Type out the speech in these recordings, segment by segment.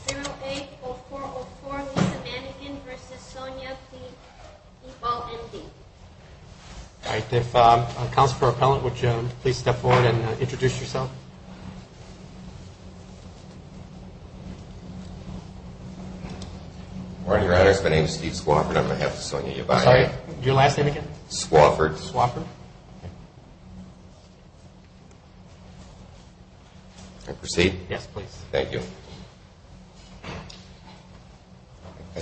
080404 Lisa Mannequin v. Sonia P. Yballe, M.D. I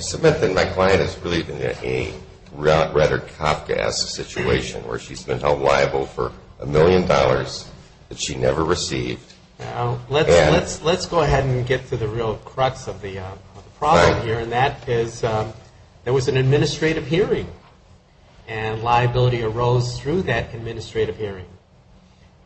submit that my client has really been in a rather Kafkaesque situation where she's been held liable for a million dollars that she never received. Let's go ahead and get to the real crux of the problem here, and that is there was an administrative hearing, and liability arose through that administrative hearing.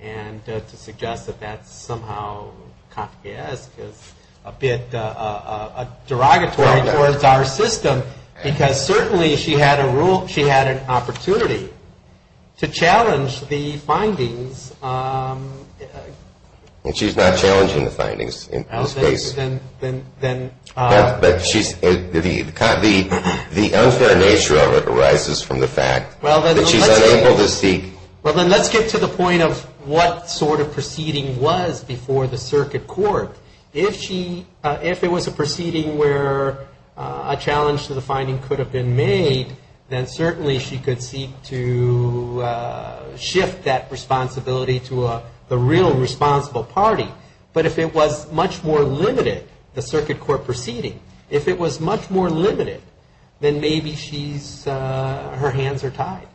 And to suggest that that's somehow Kafkaesque is a bit derogatory towards our system, because certainly she had an opportunity to challenge the findings. And she's not challenging the findings in this case. But the unfair nature of it arises from the fact that she's unable to seek. Well, then let's get to the point of what sort of proceeding was before the circuit court. If it was a proceeding where a challenge to the finding could have been made, then certainly she could seek to shift that responsibility to the real responsible party. But if it was much more limited, the circuit court proceeding, if it was much more limited, then maybe her hands are tied.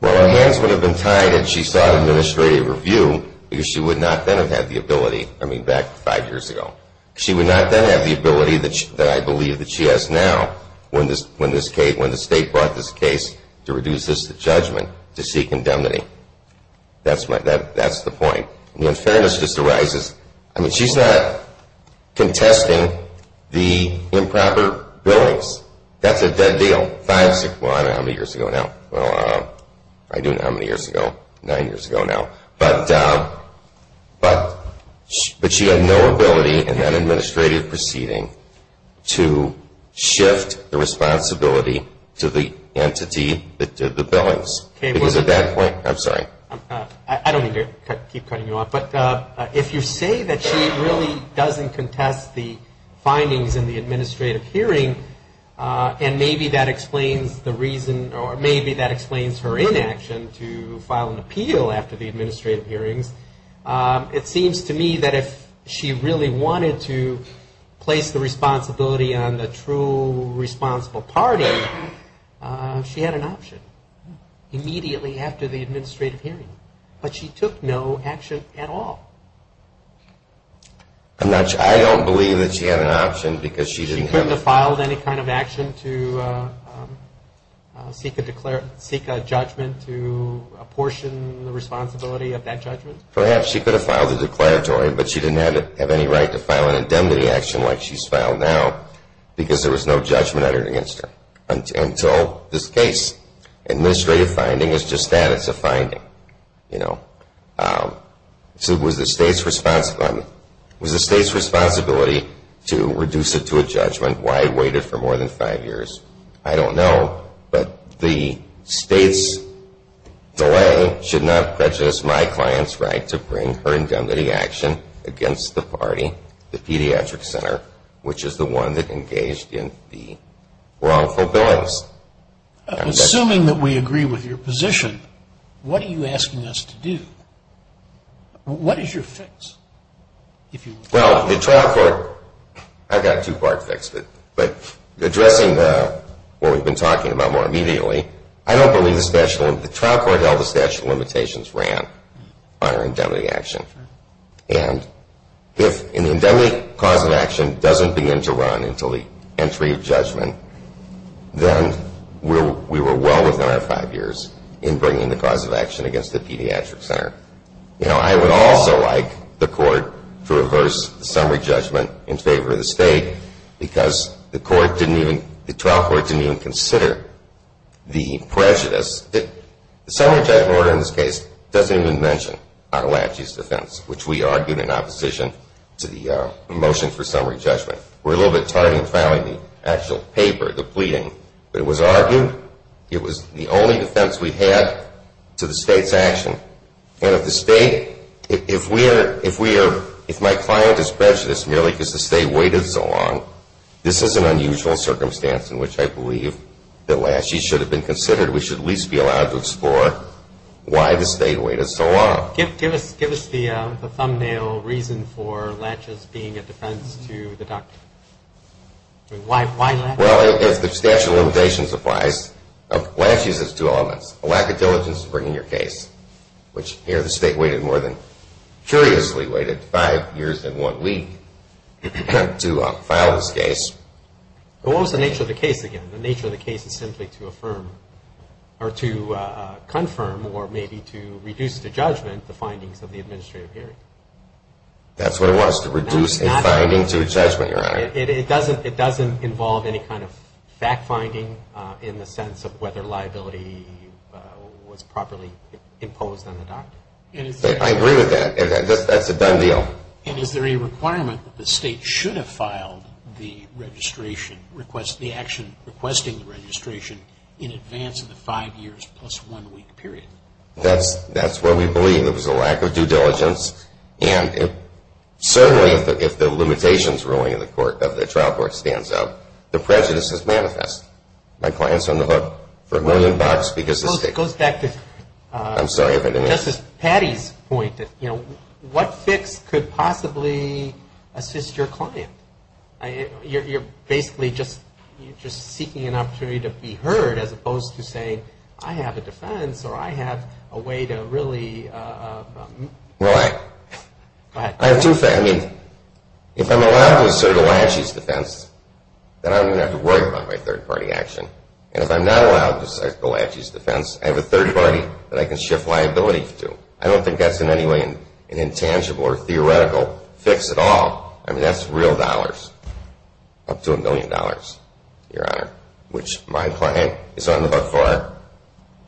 Well, her hands would have been tied if she sought administrative review, because she would not then have had the ability, I mean, back five years ago. She would not then have the ability that I believe that she has now when the state brought this case to reduce this to judgment to seek indemnity. That's the point. The unfairness just arises. I mean, she's not contesting the improper billings. That's a dead deal. Five, six, well, I don't know how many years ago now. Well, I do know how many years ago, nine years ago now. But she had no ability in that administrative proceeding to shift the responsibility to the entity that did the billings. It was at that point. I'm sorry. I don't mean to keep cutting you off. But if you say that she really doesn't contest the findings in the administrative hearing, and maybe that explains the reason, or maybe that explains her inaction to file an appeal after the administrative hearings, it seems to me that if she really wanted to place the responsibility on the true responsible party, she had an option immediately after the administrative hearing. But she took no action at all. I'm not sure. I don't believe that she had an option because she didn't have. She couldn't have filed any kind of action to seek a judgment to apportion the responsibility of that judgment? Perhaps she could have filed a declaratory, but she didn't have any right to file an indemnity action like she's filed now because there was no judgment uttered against her. Until this case. Administrative finding is just that. It's a finding. So was the state's responsibility to reduce it to a judgment? Why wait it for more than five years? I don't know. But the state's delay should not prejudice my client's right to bring her indemnity action against the party, the pediatric center, which is the one that engaged in the wrongful billings. Assuming that we agree with your position, what are you asking us to do? What is your fix? Well, the trial court, I've got a two-part fix. But addressing what we've been talking about more immediately, I don't believe the trial court held the statute of limitations ran on her indemnity action. And if an indemnity cause of action doesn't begin to run until the entry of judgment, then we were well within our five years in bringing the cause of action against the pediatric center. You know, I would also like the court to reverse the summary judgment in favor of the state because the trial court didn't even consider the prejudice. The summary judgment order in this case doesn't even mention our laches defense, which we argued in opposition to the motion for summary judgment. We're a little bit tardy in filing the actual paper, the pleading, but it was argued. It was the only defense we had to the state's action. And if the state, if my client is prejudiced merely because the state waited so long, this is an unusual circumstance in which I believe that laches should have been considered. We should at least be allowed to explore why the state waited so long. Give us the thumbnail reason for laches being a defense to the doctor. Why laches? Well, if the statute of limitations applies, laches has two elements. A lack of diligence in bringing your case, which here the state waited more than, curiously waited five years and one week to file this case. What was the nature of the case again? The nature of the case is simply to affirm or to confirm or maybe to reduce to judgment the findings of the administrative hearing. That's what it was, to reduce a finding to a judgment, Your Honor. It doesn't involve any kind of fact finding in the sense of whether liability was properly imposed on the doctor. I agree with that. That's a done deal. And is there a requirement that the state should have filed the registration request, the action requesting the registration in advance of the five years plus one week period? That's what we believe. It was a lack of due diligence. And certainly if the limitations ruling of the trial court stands up, the prejudice is manifest. My client is on the hook for a million bucks because the state. It goes back to Justice Patti's point. What fix could possibly assist your client? You're basically just seeking an opportunity to be heard as opposed to saying, I have a defense or I have a way to really. Well, I have two. I mean, if I'm allowed to assert Elachi's defense, then I don't even have to worry about my third-party action. And if I'm not allowed to assert Elachi's defense, I have a third-party that I can shift liability to. I don't think that's in any way an intangible or theoretical fix at all. I mean, that's real dollars, up to a million dollars, Your Honor, which my client is on the hook for.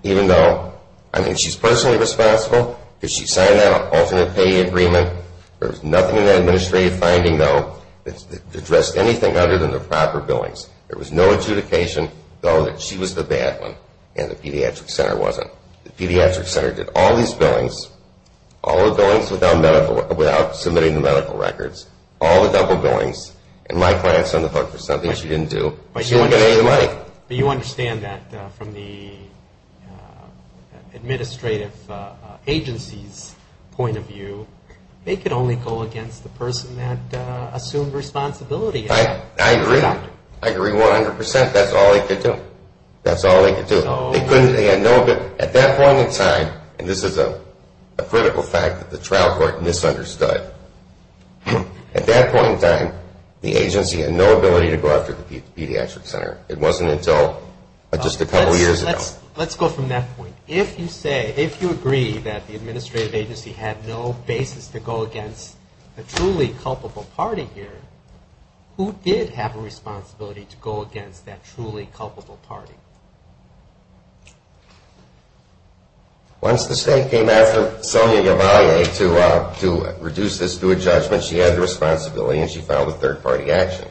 Even though, I mean, she's personally responsible because she signed that alternate pay agreement. There was nothing in that administrative finding, though, that addressed anything other than the proper billings. There was no adjudication, though, that she was the bad one and the pediatric center wasn't. The pediatric center did all these billings, all the billings without submitting the medical records, all the double billings, and my client is on the hook for something she didn't do. She won't get any of the money. But you understand that from the administrative agency's point of view, they could only go against the person that assumed responsibility. I agree. I agree 100%. That's all they could do. That's all they could do. They had no ability. At that point in time, and this is a critical fact that the trial court misunderstood, at that point in time, the agency had no ability to go after the pediatric center. It wasn't until just a couple years ago. Let's go from that point. If you agree that the administrative agency had no basis to go against the truly culpable party here, who did have a responsibility to go against that truly culpable party? Once the state came after Sonia Yavalle to reduce this to a judgment, she had the responsibility and she filed a third-party action.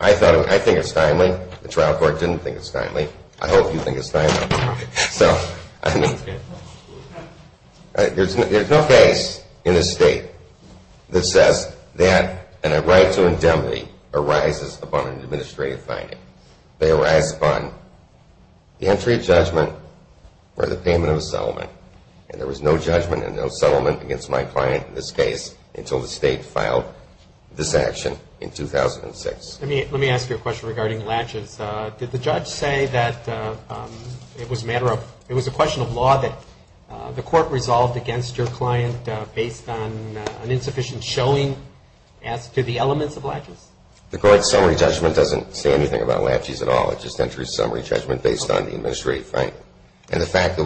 I think it's timely. The trial court didn't think it's timely. I hope you think it's timely. There's no case in this state that says that a right to indemnity arises upon an administrative finding. They arise upon the entry of judgment or the payment of a settlement. And there was no judgment and no settlement against my client in this case until the state filed this action in 2006. Let me ask you a question regarding latches. Did the judge say that it was a question of law that the court resolved against your client based on an insufficient showing as to the elements of latches? The court's summary judgment doesn't say anything about latches at all. It just enters summary judgment based on the administrative finding. And the fact that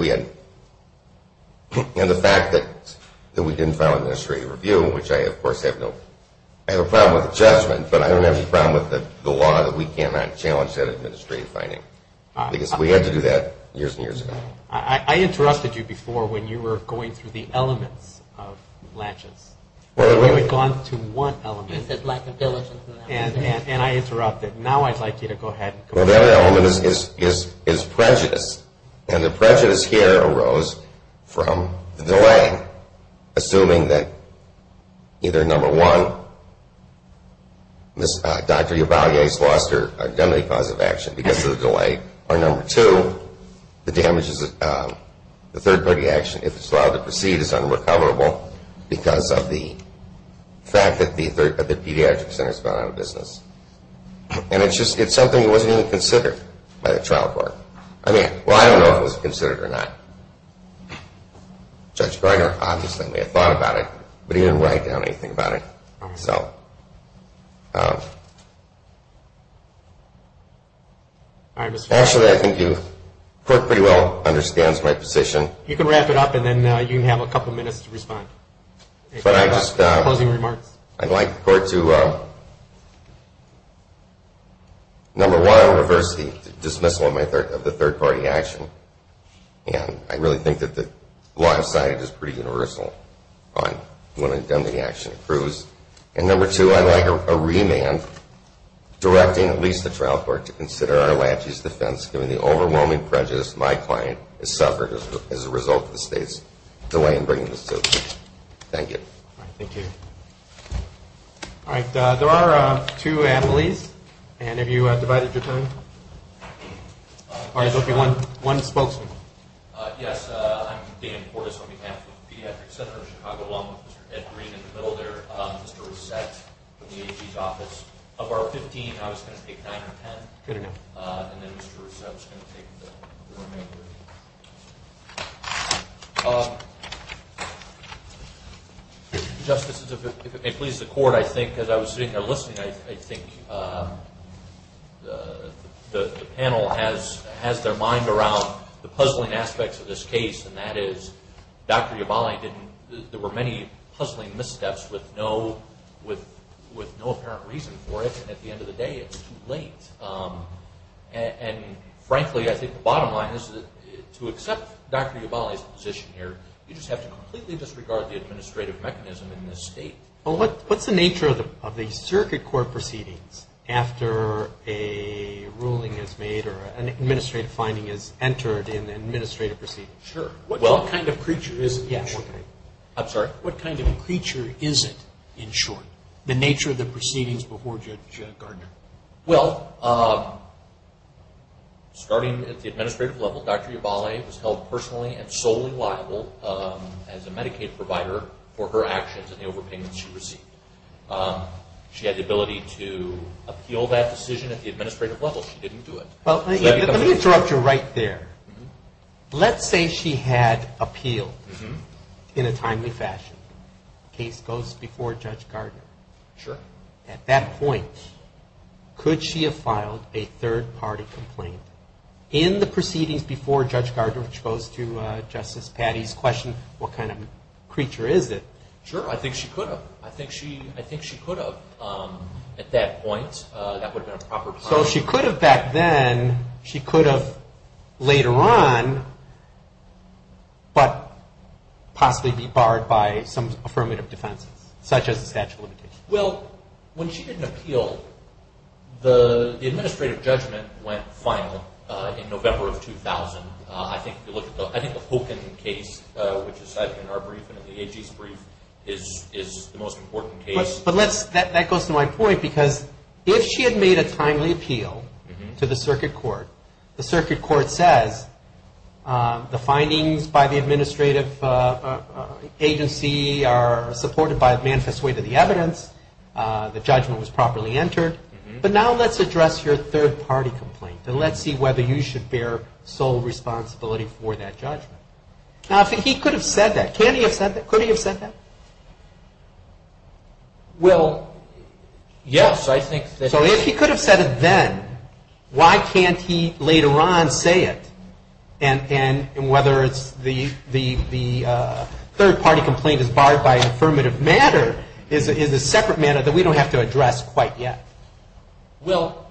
we didn't file an administrative review, which I, of course, have no problem with the judgment, but I don't have any problem with the law that we cannot challenge that administrative finding because we had to do that years and years ago. I interrupted you before when you were going through the elements of latches. You had gone through one element. I said lack of diligence. And I interrupted. Now I'd like you to go ahead. Well, that element is prejudice, and the prejudice here arose from the delay, assuming that either, number one, Dr. Ubalde's lost her identity cause of action because of the delay, or number two, the damages of the third party action, if it's allowed to proceed, is unrecoverable because of the fact that the pediatric center has gone out of business. And it's something that wasn't even considered by the trial court. Well, I don't know if it was considered or not. Judge Breyer, obviously, may have thought about it, but he didn't write down anything about it. Actually, I think the court pretty well understands my position. You can wrap it up, and then you can have a couple minutes to respond. Closing remarks. I'd like the court to, number one, reverse the dismissal of the third party action. And I really think that the law of side is pretty universal on when an indemnity action approves. And number two, I'd like a remand directing at least the trial court to consider our latches defense, given the overwhelming prejudice my client has suffered as a result of the state's delay in bringing this to the court. Thank you. All right. Thank you. All right. There are two attorneys. And have you divided your time? All right. There will be one spokesman. Yes. I'm Dan Portis on behalf of the Pediatric Center of Chicago, along with Mr. Ed Green in the middle there, Mr. Rousset from the AG's office. Of our 15, I was going to take 9 or 10. Good enough. And then Mr. Rousset was going to take the remainder. Thank you. Justices, if it may please the Court, I think as I was sitting there listening, I think the panel has their mind around the puzzling aspects of this case, and that is Dr. Yabali didn't – there were many puzzling missteps with no apparent reason for it. And at the end of the day, it was too late. And frankly, I think the bottom line is to accept Dr. Yabali's position here, you just have to completely disregard the administrative mechanism in this state. Well, what's the nature of the circuit court proceedings after a ruling is made or an administrative finding is entered in the administrative proceedings? Sure. What kind of creature is it in short? I'm sorry. What kind of creature is it in short, the nature of the proceedings before Judge Gardner? Well, starting at the administrative level, Dr. Yabali was held personally and solely liable as a Medicaid provider for her actions and the overpayments she received. She had the ability to appeal that decision at the administrative level. She didn't do it. Well, let me interrupt you right there. Let's say she had appealed in a timely fashion. Case goes before Judge Gardner. Sure. At that point, could she have filed a third-party complaint? In the proceedings before Judge Gardner, which goes to Justice Patty's question, what kind of creature is it? Sure. I think she could have. I think she could have at that point. That would have been a proper claim. So she could have back then. She could have later on, but possibly be barred by some affirmative defenses, such as the statute of limitations. Well, when she didn't appeal, the administrative judgment went final in November of 2000. I think if you look at the Hogan case, which is cited in our brief and in the AG's brief, is the most important case. But that goes to my point, because if she had made a timely appeal to the circuit court, the circuit court says the findings by the administrative agency are supported by a manifest way to the evidence. The judgment was properly entered. But now let's address your third-party complaint, and let's see whether you should bear sole responsibility for that judgment. Now, he could have said that. Can he have said that? Could he have said that? Well, yes. So if he could have said it then, why can't he later on say it? And whether the third-party complaint is barred by an affirmative matter is a separate matter that we don't have to address quite yet. Well,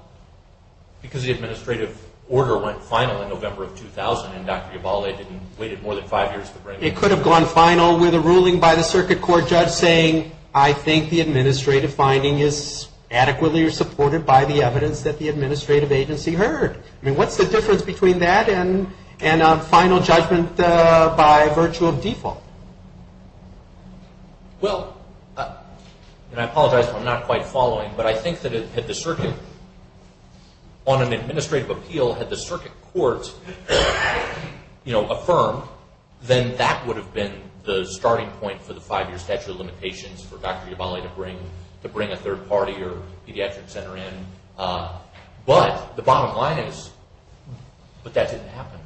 because the administrative order went final in November of 2000, and Dr. Ibalde didn't wait more than five years to bring it to court. It could have gone final with a ruling by the circuit court judge saying, I think the administrative finding is adequately supported by the evidence that the administrative agency heard. I mean, what's the difference between that and a final judgment by virtue of default? Well, and I apologize if I'm not quite following, but I think that on an administrative appeal, had the circuit court affirmed, then that would have been the starting point for the five-year statute of limitations for Dr. Ibalde to bring a third-party or pediatric center in. But the bottom line is, but that didn't happen.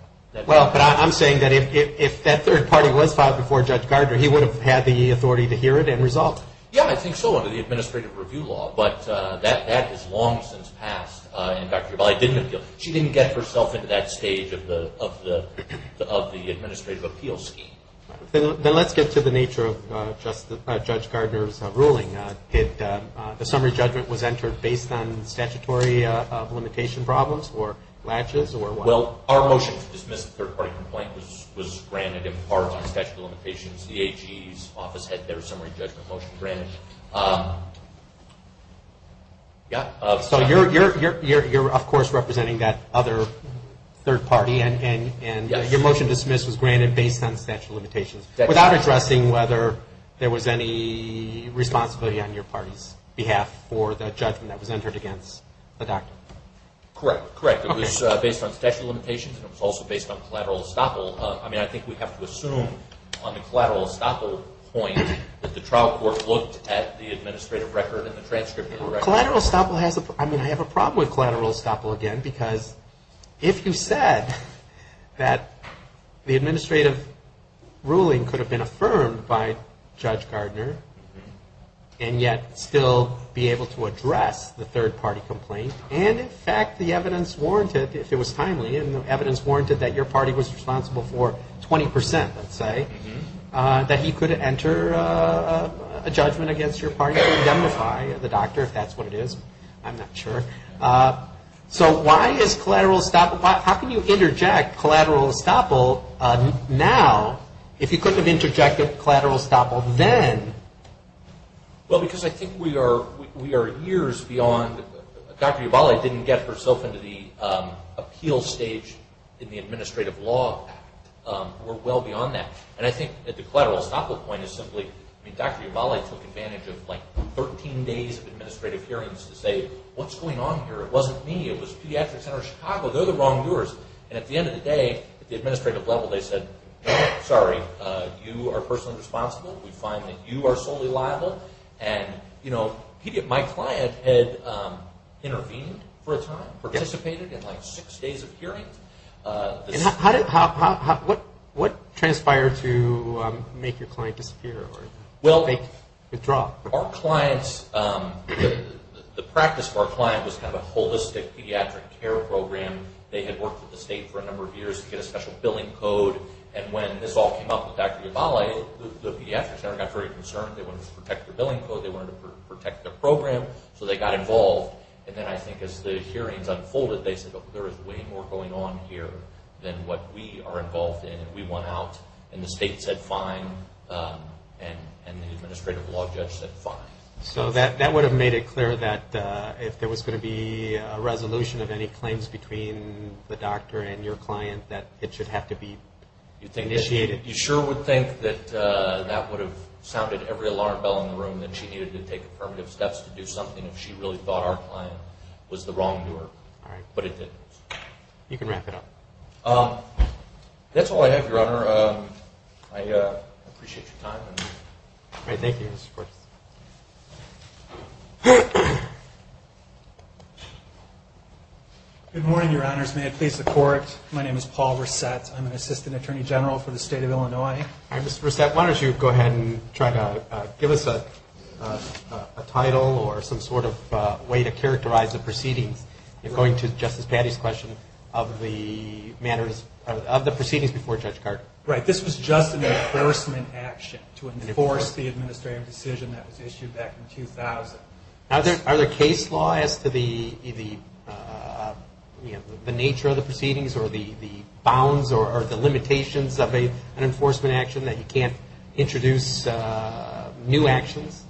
Well, but I'm saying that if that third-party was filed before Judge Gardner, he would have had the authority to hear it and result. Yeah, I think so, under the administrative review law. But that has long since passed, and Dr. Ibalde didn't appeal. She didn't get herself into that stage of the administrative appeal scheme. Then let's get to the nature of Judge Gardner's ruling. Did the summary judgment was entered based on statutory limitation problems or latches or what? Well, our motion to dismiss the third-party complaint was granted in part on statute of limitations. The AG's office had their summary judgment motion granted. So you're, of course, representing that other third-party, and your motion to dismiss was granted based on statutory limitations, without addressing whether there was any responsibility on your party's behalf for the judgment that was entered against the doctor. Correct, correct. It was based on statutory limitations, and it was also based on collateral estoppel. I mean, I think we have to assume on the collateral estoppel point that the trial court looked at the administrative record and the transcript of the record. Collateral estoppel has a problem. I mean, I have a problem with collateral estoppel again, because if you said that the administrative ruling could have been affirmed by Judge Gardner and yet still be able to address the third-party complaint, and in fact the evidence warranted, if it was timely, and the evidence warranted that your party was responsible for 20 percent, let's say, that he could enter a judgment against your party and indemnify the doctor, if that's what it is. I'm not sure. So why is collateral estoppel – how can you interject collateral estoppel now if you couldn't have interjected collateral estoppel then? Well, because I think we are years beyond – Dr. Yuvali didn't get herself into the appeal stage in the Administrative Law Act. We're well beyond that. And I think that the collateral estoppel point is simply – I mean, Dr. Yuvali took advantage of like 13 days of administrative hearings to say, what's going on here? It wasn't me. It was Pediatric Center of Chicago. They're the wrongdoers. And at the end of the day, at the administrative level, they said, no, sorry, you are personally responsible. We find that you are solely liable. And, you know, my client had intervened for a time, participated in like six days of hearings. And how did – what transpired to make your client disappear or make – withdraw? Well, our clients – the practice of our client was kind of a holistic pediatric care program. They had worked with the state for a number of years to get a special billing code. And when this all came up with Dr. Yuvali, the Pediatric Center got very concerned. They wanted to protect their billing code. They wanted to protect their program. So they got involved. And then I think as the hearings unfolded, they said, look, there is way more going on here than what we are involved in. And we want out. And the state said fine. And the administrative law judge said fine. So that would have made it clear that if there was going to be a resolution of any claims between the doctor and your client, that it should have to be initiated. You sure would think that that would have sounded every alarm bell in the room, that she needed to take affirmative steps to do something if she really thought our client was the wrongdoer. All right. But it didn't. You can wrap it up. That's all I have, Your Honor. I appreciate your time. All right. Thank you. Of course. Good morning, Your Honors. May it please the Court. My name is Paul Resett. I'm an Assistant Attorney General for the State of Illinois. Mr. Resett, why don't you go ahead and try to give us a title or some sort of way to characterize the proceedings. You're going to Justice Patti's question of the proceedings before Judge Garten. Right. This was just an enforcement action to enforce the administrative decision that was issued back in 2000. Are there case laws as to the nature of the proceedings or the bounds or the limitations of an enforcement action that you can't introduce new actions?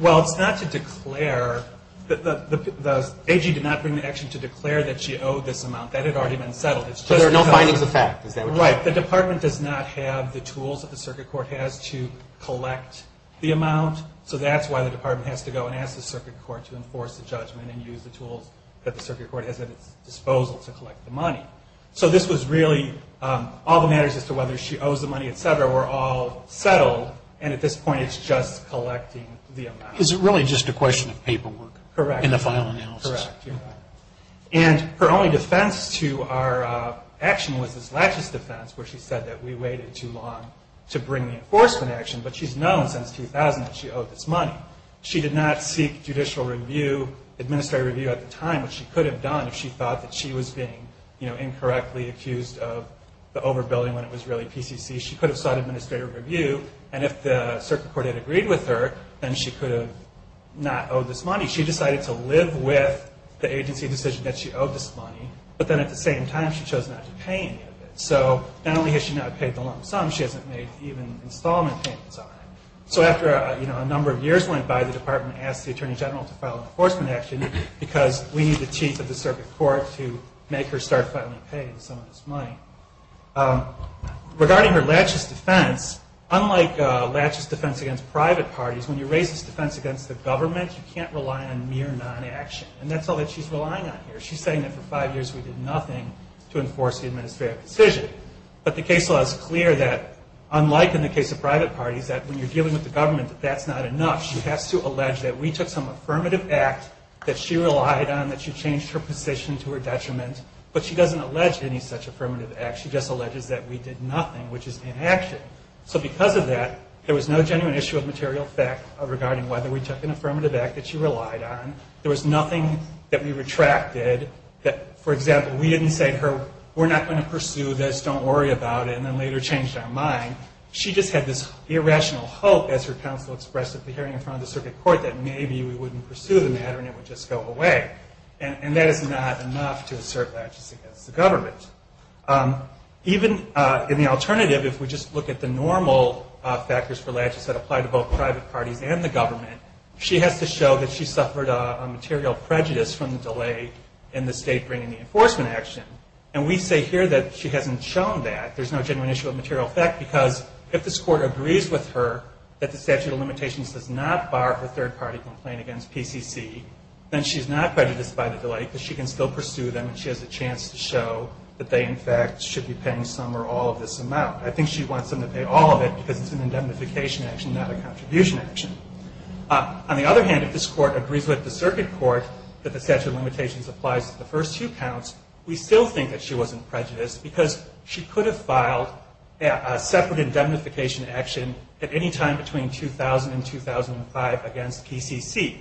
Well, it's not to declare. The AG did not bring the action to declare that she owed this amount. That had already been settled. So there are no findings of fact, is that what you're saying? Right. The Department does not have the tools that the Circuit Court has to collect the amount, so that's why the Department has to go and ask the Circuit Court to enforce the judgment and use the tools that the Circuit Court has at its disposal to collect the money. So this was really all the matters as to whether she owes the money, et cetera, were all settled, and at this point it's just collecting the amount. Is it really just a question of paperwork? Correct. In the final analysis? Correct. And her only defense to our action was this laches defense where she said that we waited too long to bring the enforcement action, but she's known since 2000 that she owed this money. She did not seek judicial review, administrative review at the time, which she could have done if she thought that she was being incorrectly accused of the overbilling when it was really PCC. She could have sought administrative review, and if the Circuit Court had agreed with her, then she could have not owed this money. She decided to live with the agency decision that she owed this money, but then at the same time she chose not to pay any of it. So not only has she not paid the lump sum, she hasn't made even installment payments on it. So after a number of years went by, the Department asked the Attorney General to file an enforcement action because we need the Chief of the Circuit Court to make her start finally paying some of this money. Regarding her laches defense, unlike laches defense against private parties, when you raise this defense against the government, you can't rely on mere non-action, and that's all that she's relying on here. She's saying that for five years we did nothing to enforce the administrative decision. But the case law is clear that, unlike in the case of private parties, that when you're dealing with the government, that that's not enough. She has to allege that we took some affirmative act that she relied on, that she changed her position to her detriment, but she doesn't allege any such affirmative act. She just alleges that we did nothing, which is inaction. So because of that, there was no genuine issue of material fact regarding whether we took an affirmative act that she relied on. There was nothing that we retracted that, for example, we didn't say to her, we're not going to pursue this, don't worry about it, and then later changed our mind. She just had this irrational hope, as her counsel expressed at the hearing in front of the Circuit Court, that maybe we wouldn't pursue the matter and it would just go away. And that is not enough to assert laches against the government. Even in the alternative, if we just look at the normal factors for laches that apply to both private parties and the government, she has to show that she suffered a material prejudice from the delay in the State bringing the enforcement action. And we say here that she hasn't shown that. There's no genuine issue of material fact, because if this Court agrees with her that the statute of limitations does not bar her third-party complaint against PCC, then she's not prejudiced by the delay because she can still pursue them and she has a chance to show that they, in fact, should be paying some or all of this amount. I think she wants them to pay all of it because it's an indemnification action, not a contribution action. On the other hand, if this Court agrees with the Circuit Court that the statute of limitations applies to the first two counts, we still think that she wasn't prejudiced because she could have filed a separate indemnification action at any time between 2000 and 2005 against PCC.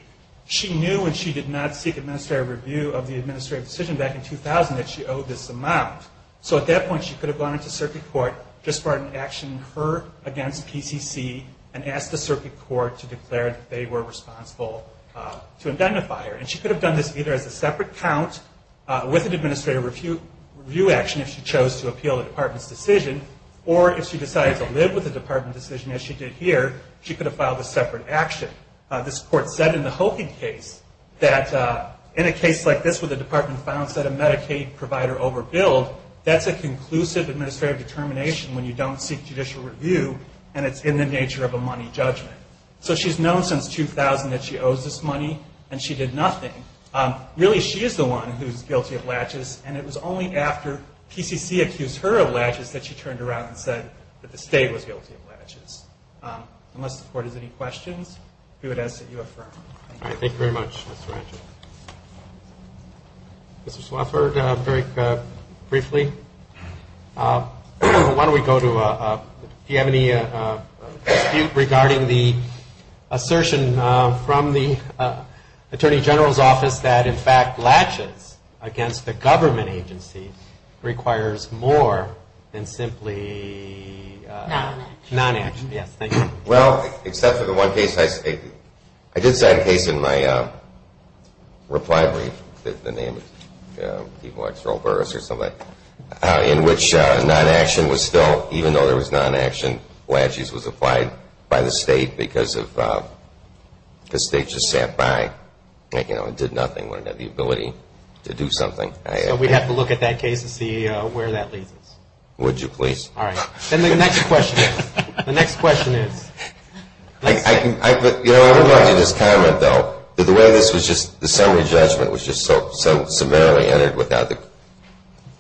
She knew when she did not seek administrative review of the administrative decision back in 2000 that she owed this amount. So at that point, she could have gone into Circuit Court, just brought an action in her against PCC, and asked the Circuit Court to declare that they were responsible to indemnify her. And she could have done this either as a separate count with an administrative review action if she chose to appeal the Department's decision, or if she decided to live with the Department decision as she did here, she could have filed a separate action. This Court said in the Hokie case that in a case like this where the Department found that a Medicaid provider overbilled, that's a conclusive administrative determination when you don't seek judicial review, and it's in the nature of a money judgment. So she's known since 2000 that she owes this money, and she did nothing. Really, she is the one who is guilty of latches, and it was only after PCC accused her of latches that she turned around and said that the State was guilty of latches. Unless the Court has any questions, we would ask that you affirm. All right, thank you very much, Mr. Rancher. Mr. Swafford, very briefly, why don't we go to, do you have any dispute regarding the assertion from the Attorney General's office that in fact latches against the government agency requires more than simply non-action? Yes, thank you. Well, except for the one case I stated. I did cite a case in my reply brief, the name was T-Vox or O'Barris or something, in which non-action was still, even though there was non-action, latches was applied by the State because the State just sat by and did nothing when it had the ability to do something. So we'd have to look at that case to see where that leads us. Would you please? All right. Then the next question is? The next question is? I would like to just comment, though, that the way this was just the summary judgment was just so summarily entered without the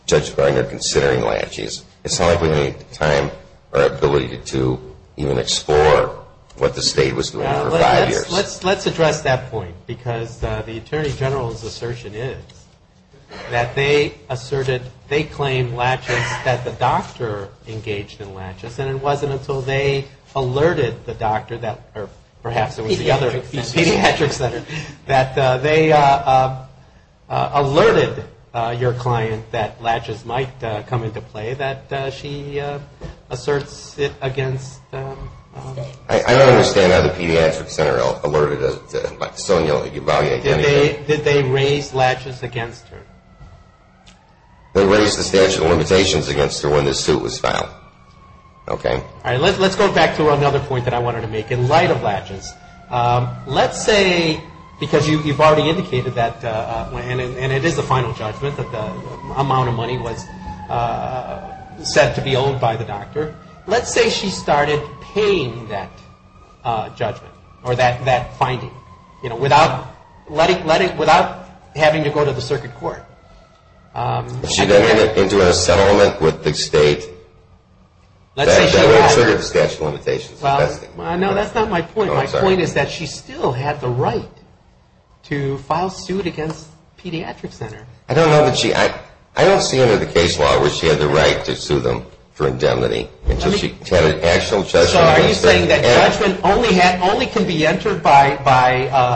judge finding or considering latches. It's not like we need time or ability to even explore what the State was doing for five years. Let's address that point because the Attorney General's assertion is that they asserted, they claimed latches, that the doctor engaged in latches, and it wasn't until they alerted the doctor, or perhaps it was the other pediatric center, that they alerted your client that latches might come into play that she asserts it against. I don't understand how the pediatric center alerted it. Did they raise latches against her? They raised the statute of limitations against her when this suit was filed. Okay. All right. Let's go back to another point that I wanted to make in light of latches. Let's say because you've already indicated that, and it is the final judgment, that the amount of money was set to be owed by the doctor. Let's say she started paying that judgment or that finding, you know, without having to go to the circuit court. If she got into an assettlement with the State, that would have triggered the statute of limitations. No, that's not my point. My point is that she still had the right to file suit against the pediatric center. I don't know that she, I don't see under the case law where she had the right to sue them for indemnity. So are you saying that judgment only can be entered by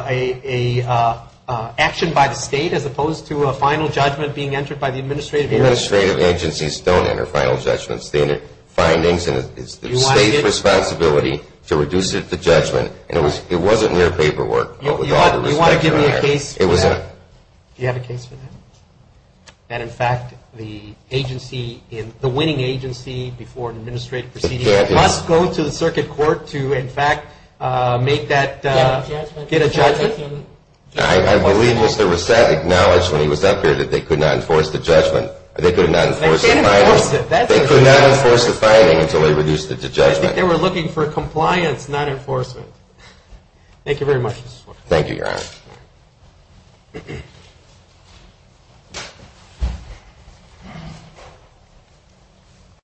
an action by the State as opposed to a final judgment being entered by the administrative agency? Administrative agencies don't enter final judgments. They enter findings and it's the State's responsibility to reduce it to judgment. It wasn't in their paperwork. You want to give me a case for that? Do you have a case for that? That, in fact, the agency, the winning agency before an administrative proceeding, must go to the circuit court to, in fact, make that, get a judgment? I believe Mr. Rousset acknowledged when he was up here that they could not enforce the judgment. They could not enforce the finding until they reduced it to judgment. I think they were looking for compliance, not enforcement. Thank you very much, Mr. Swartz. Thank you, Your Honor. Thank you.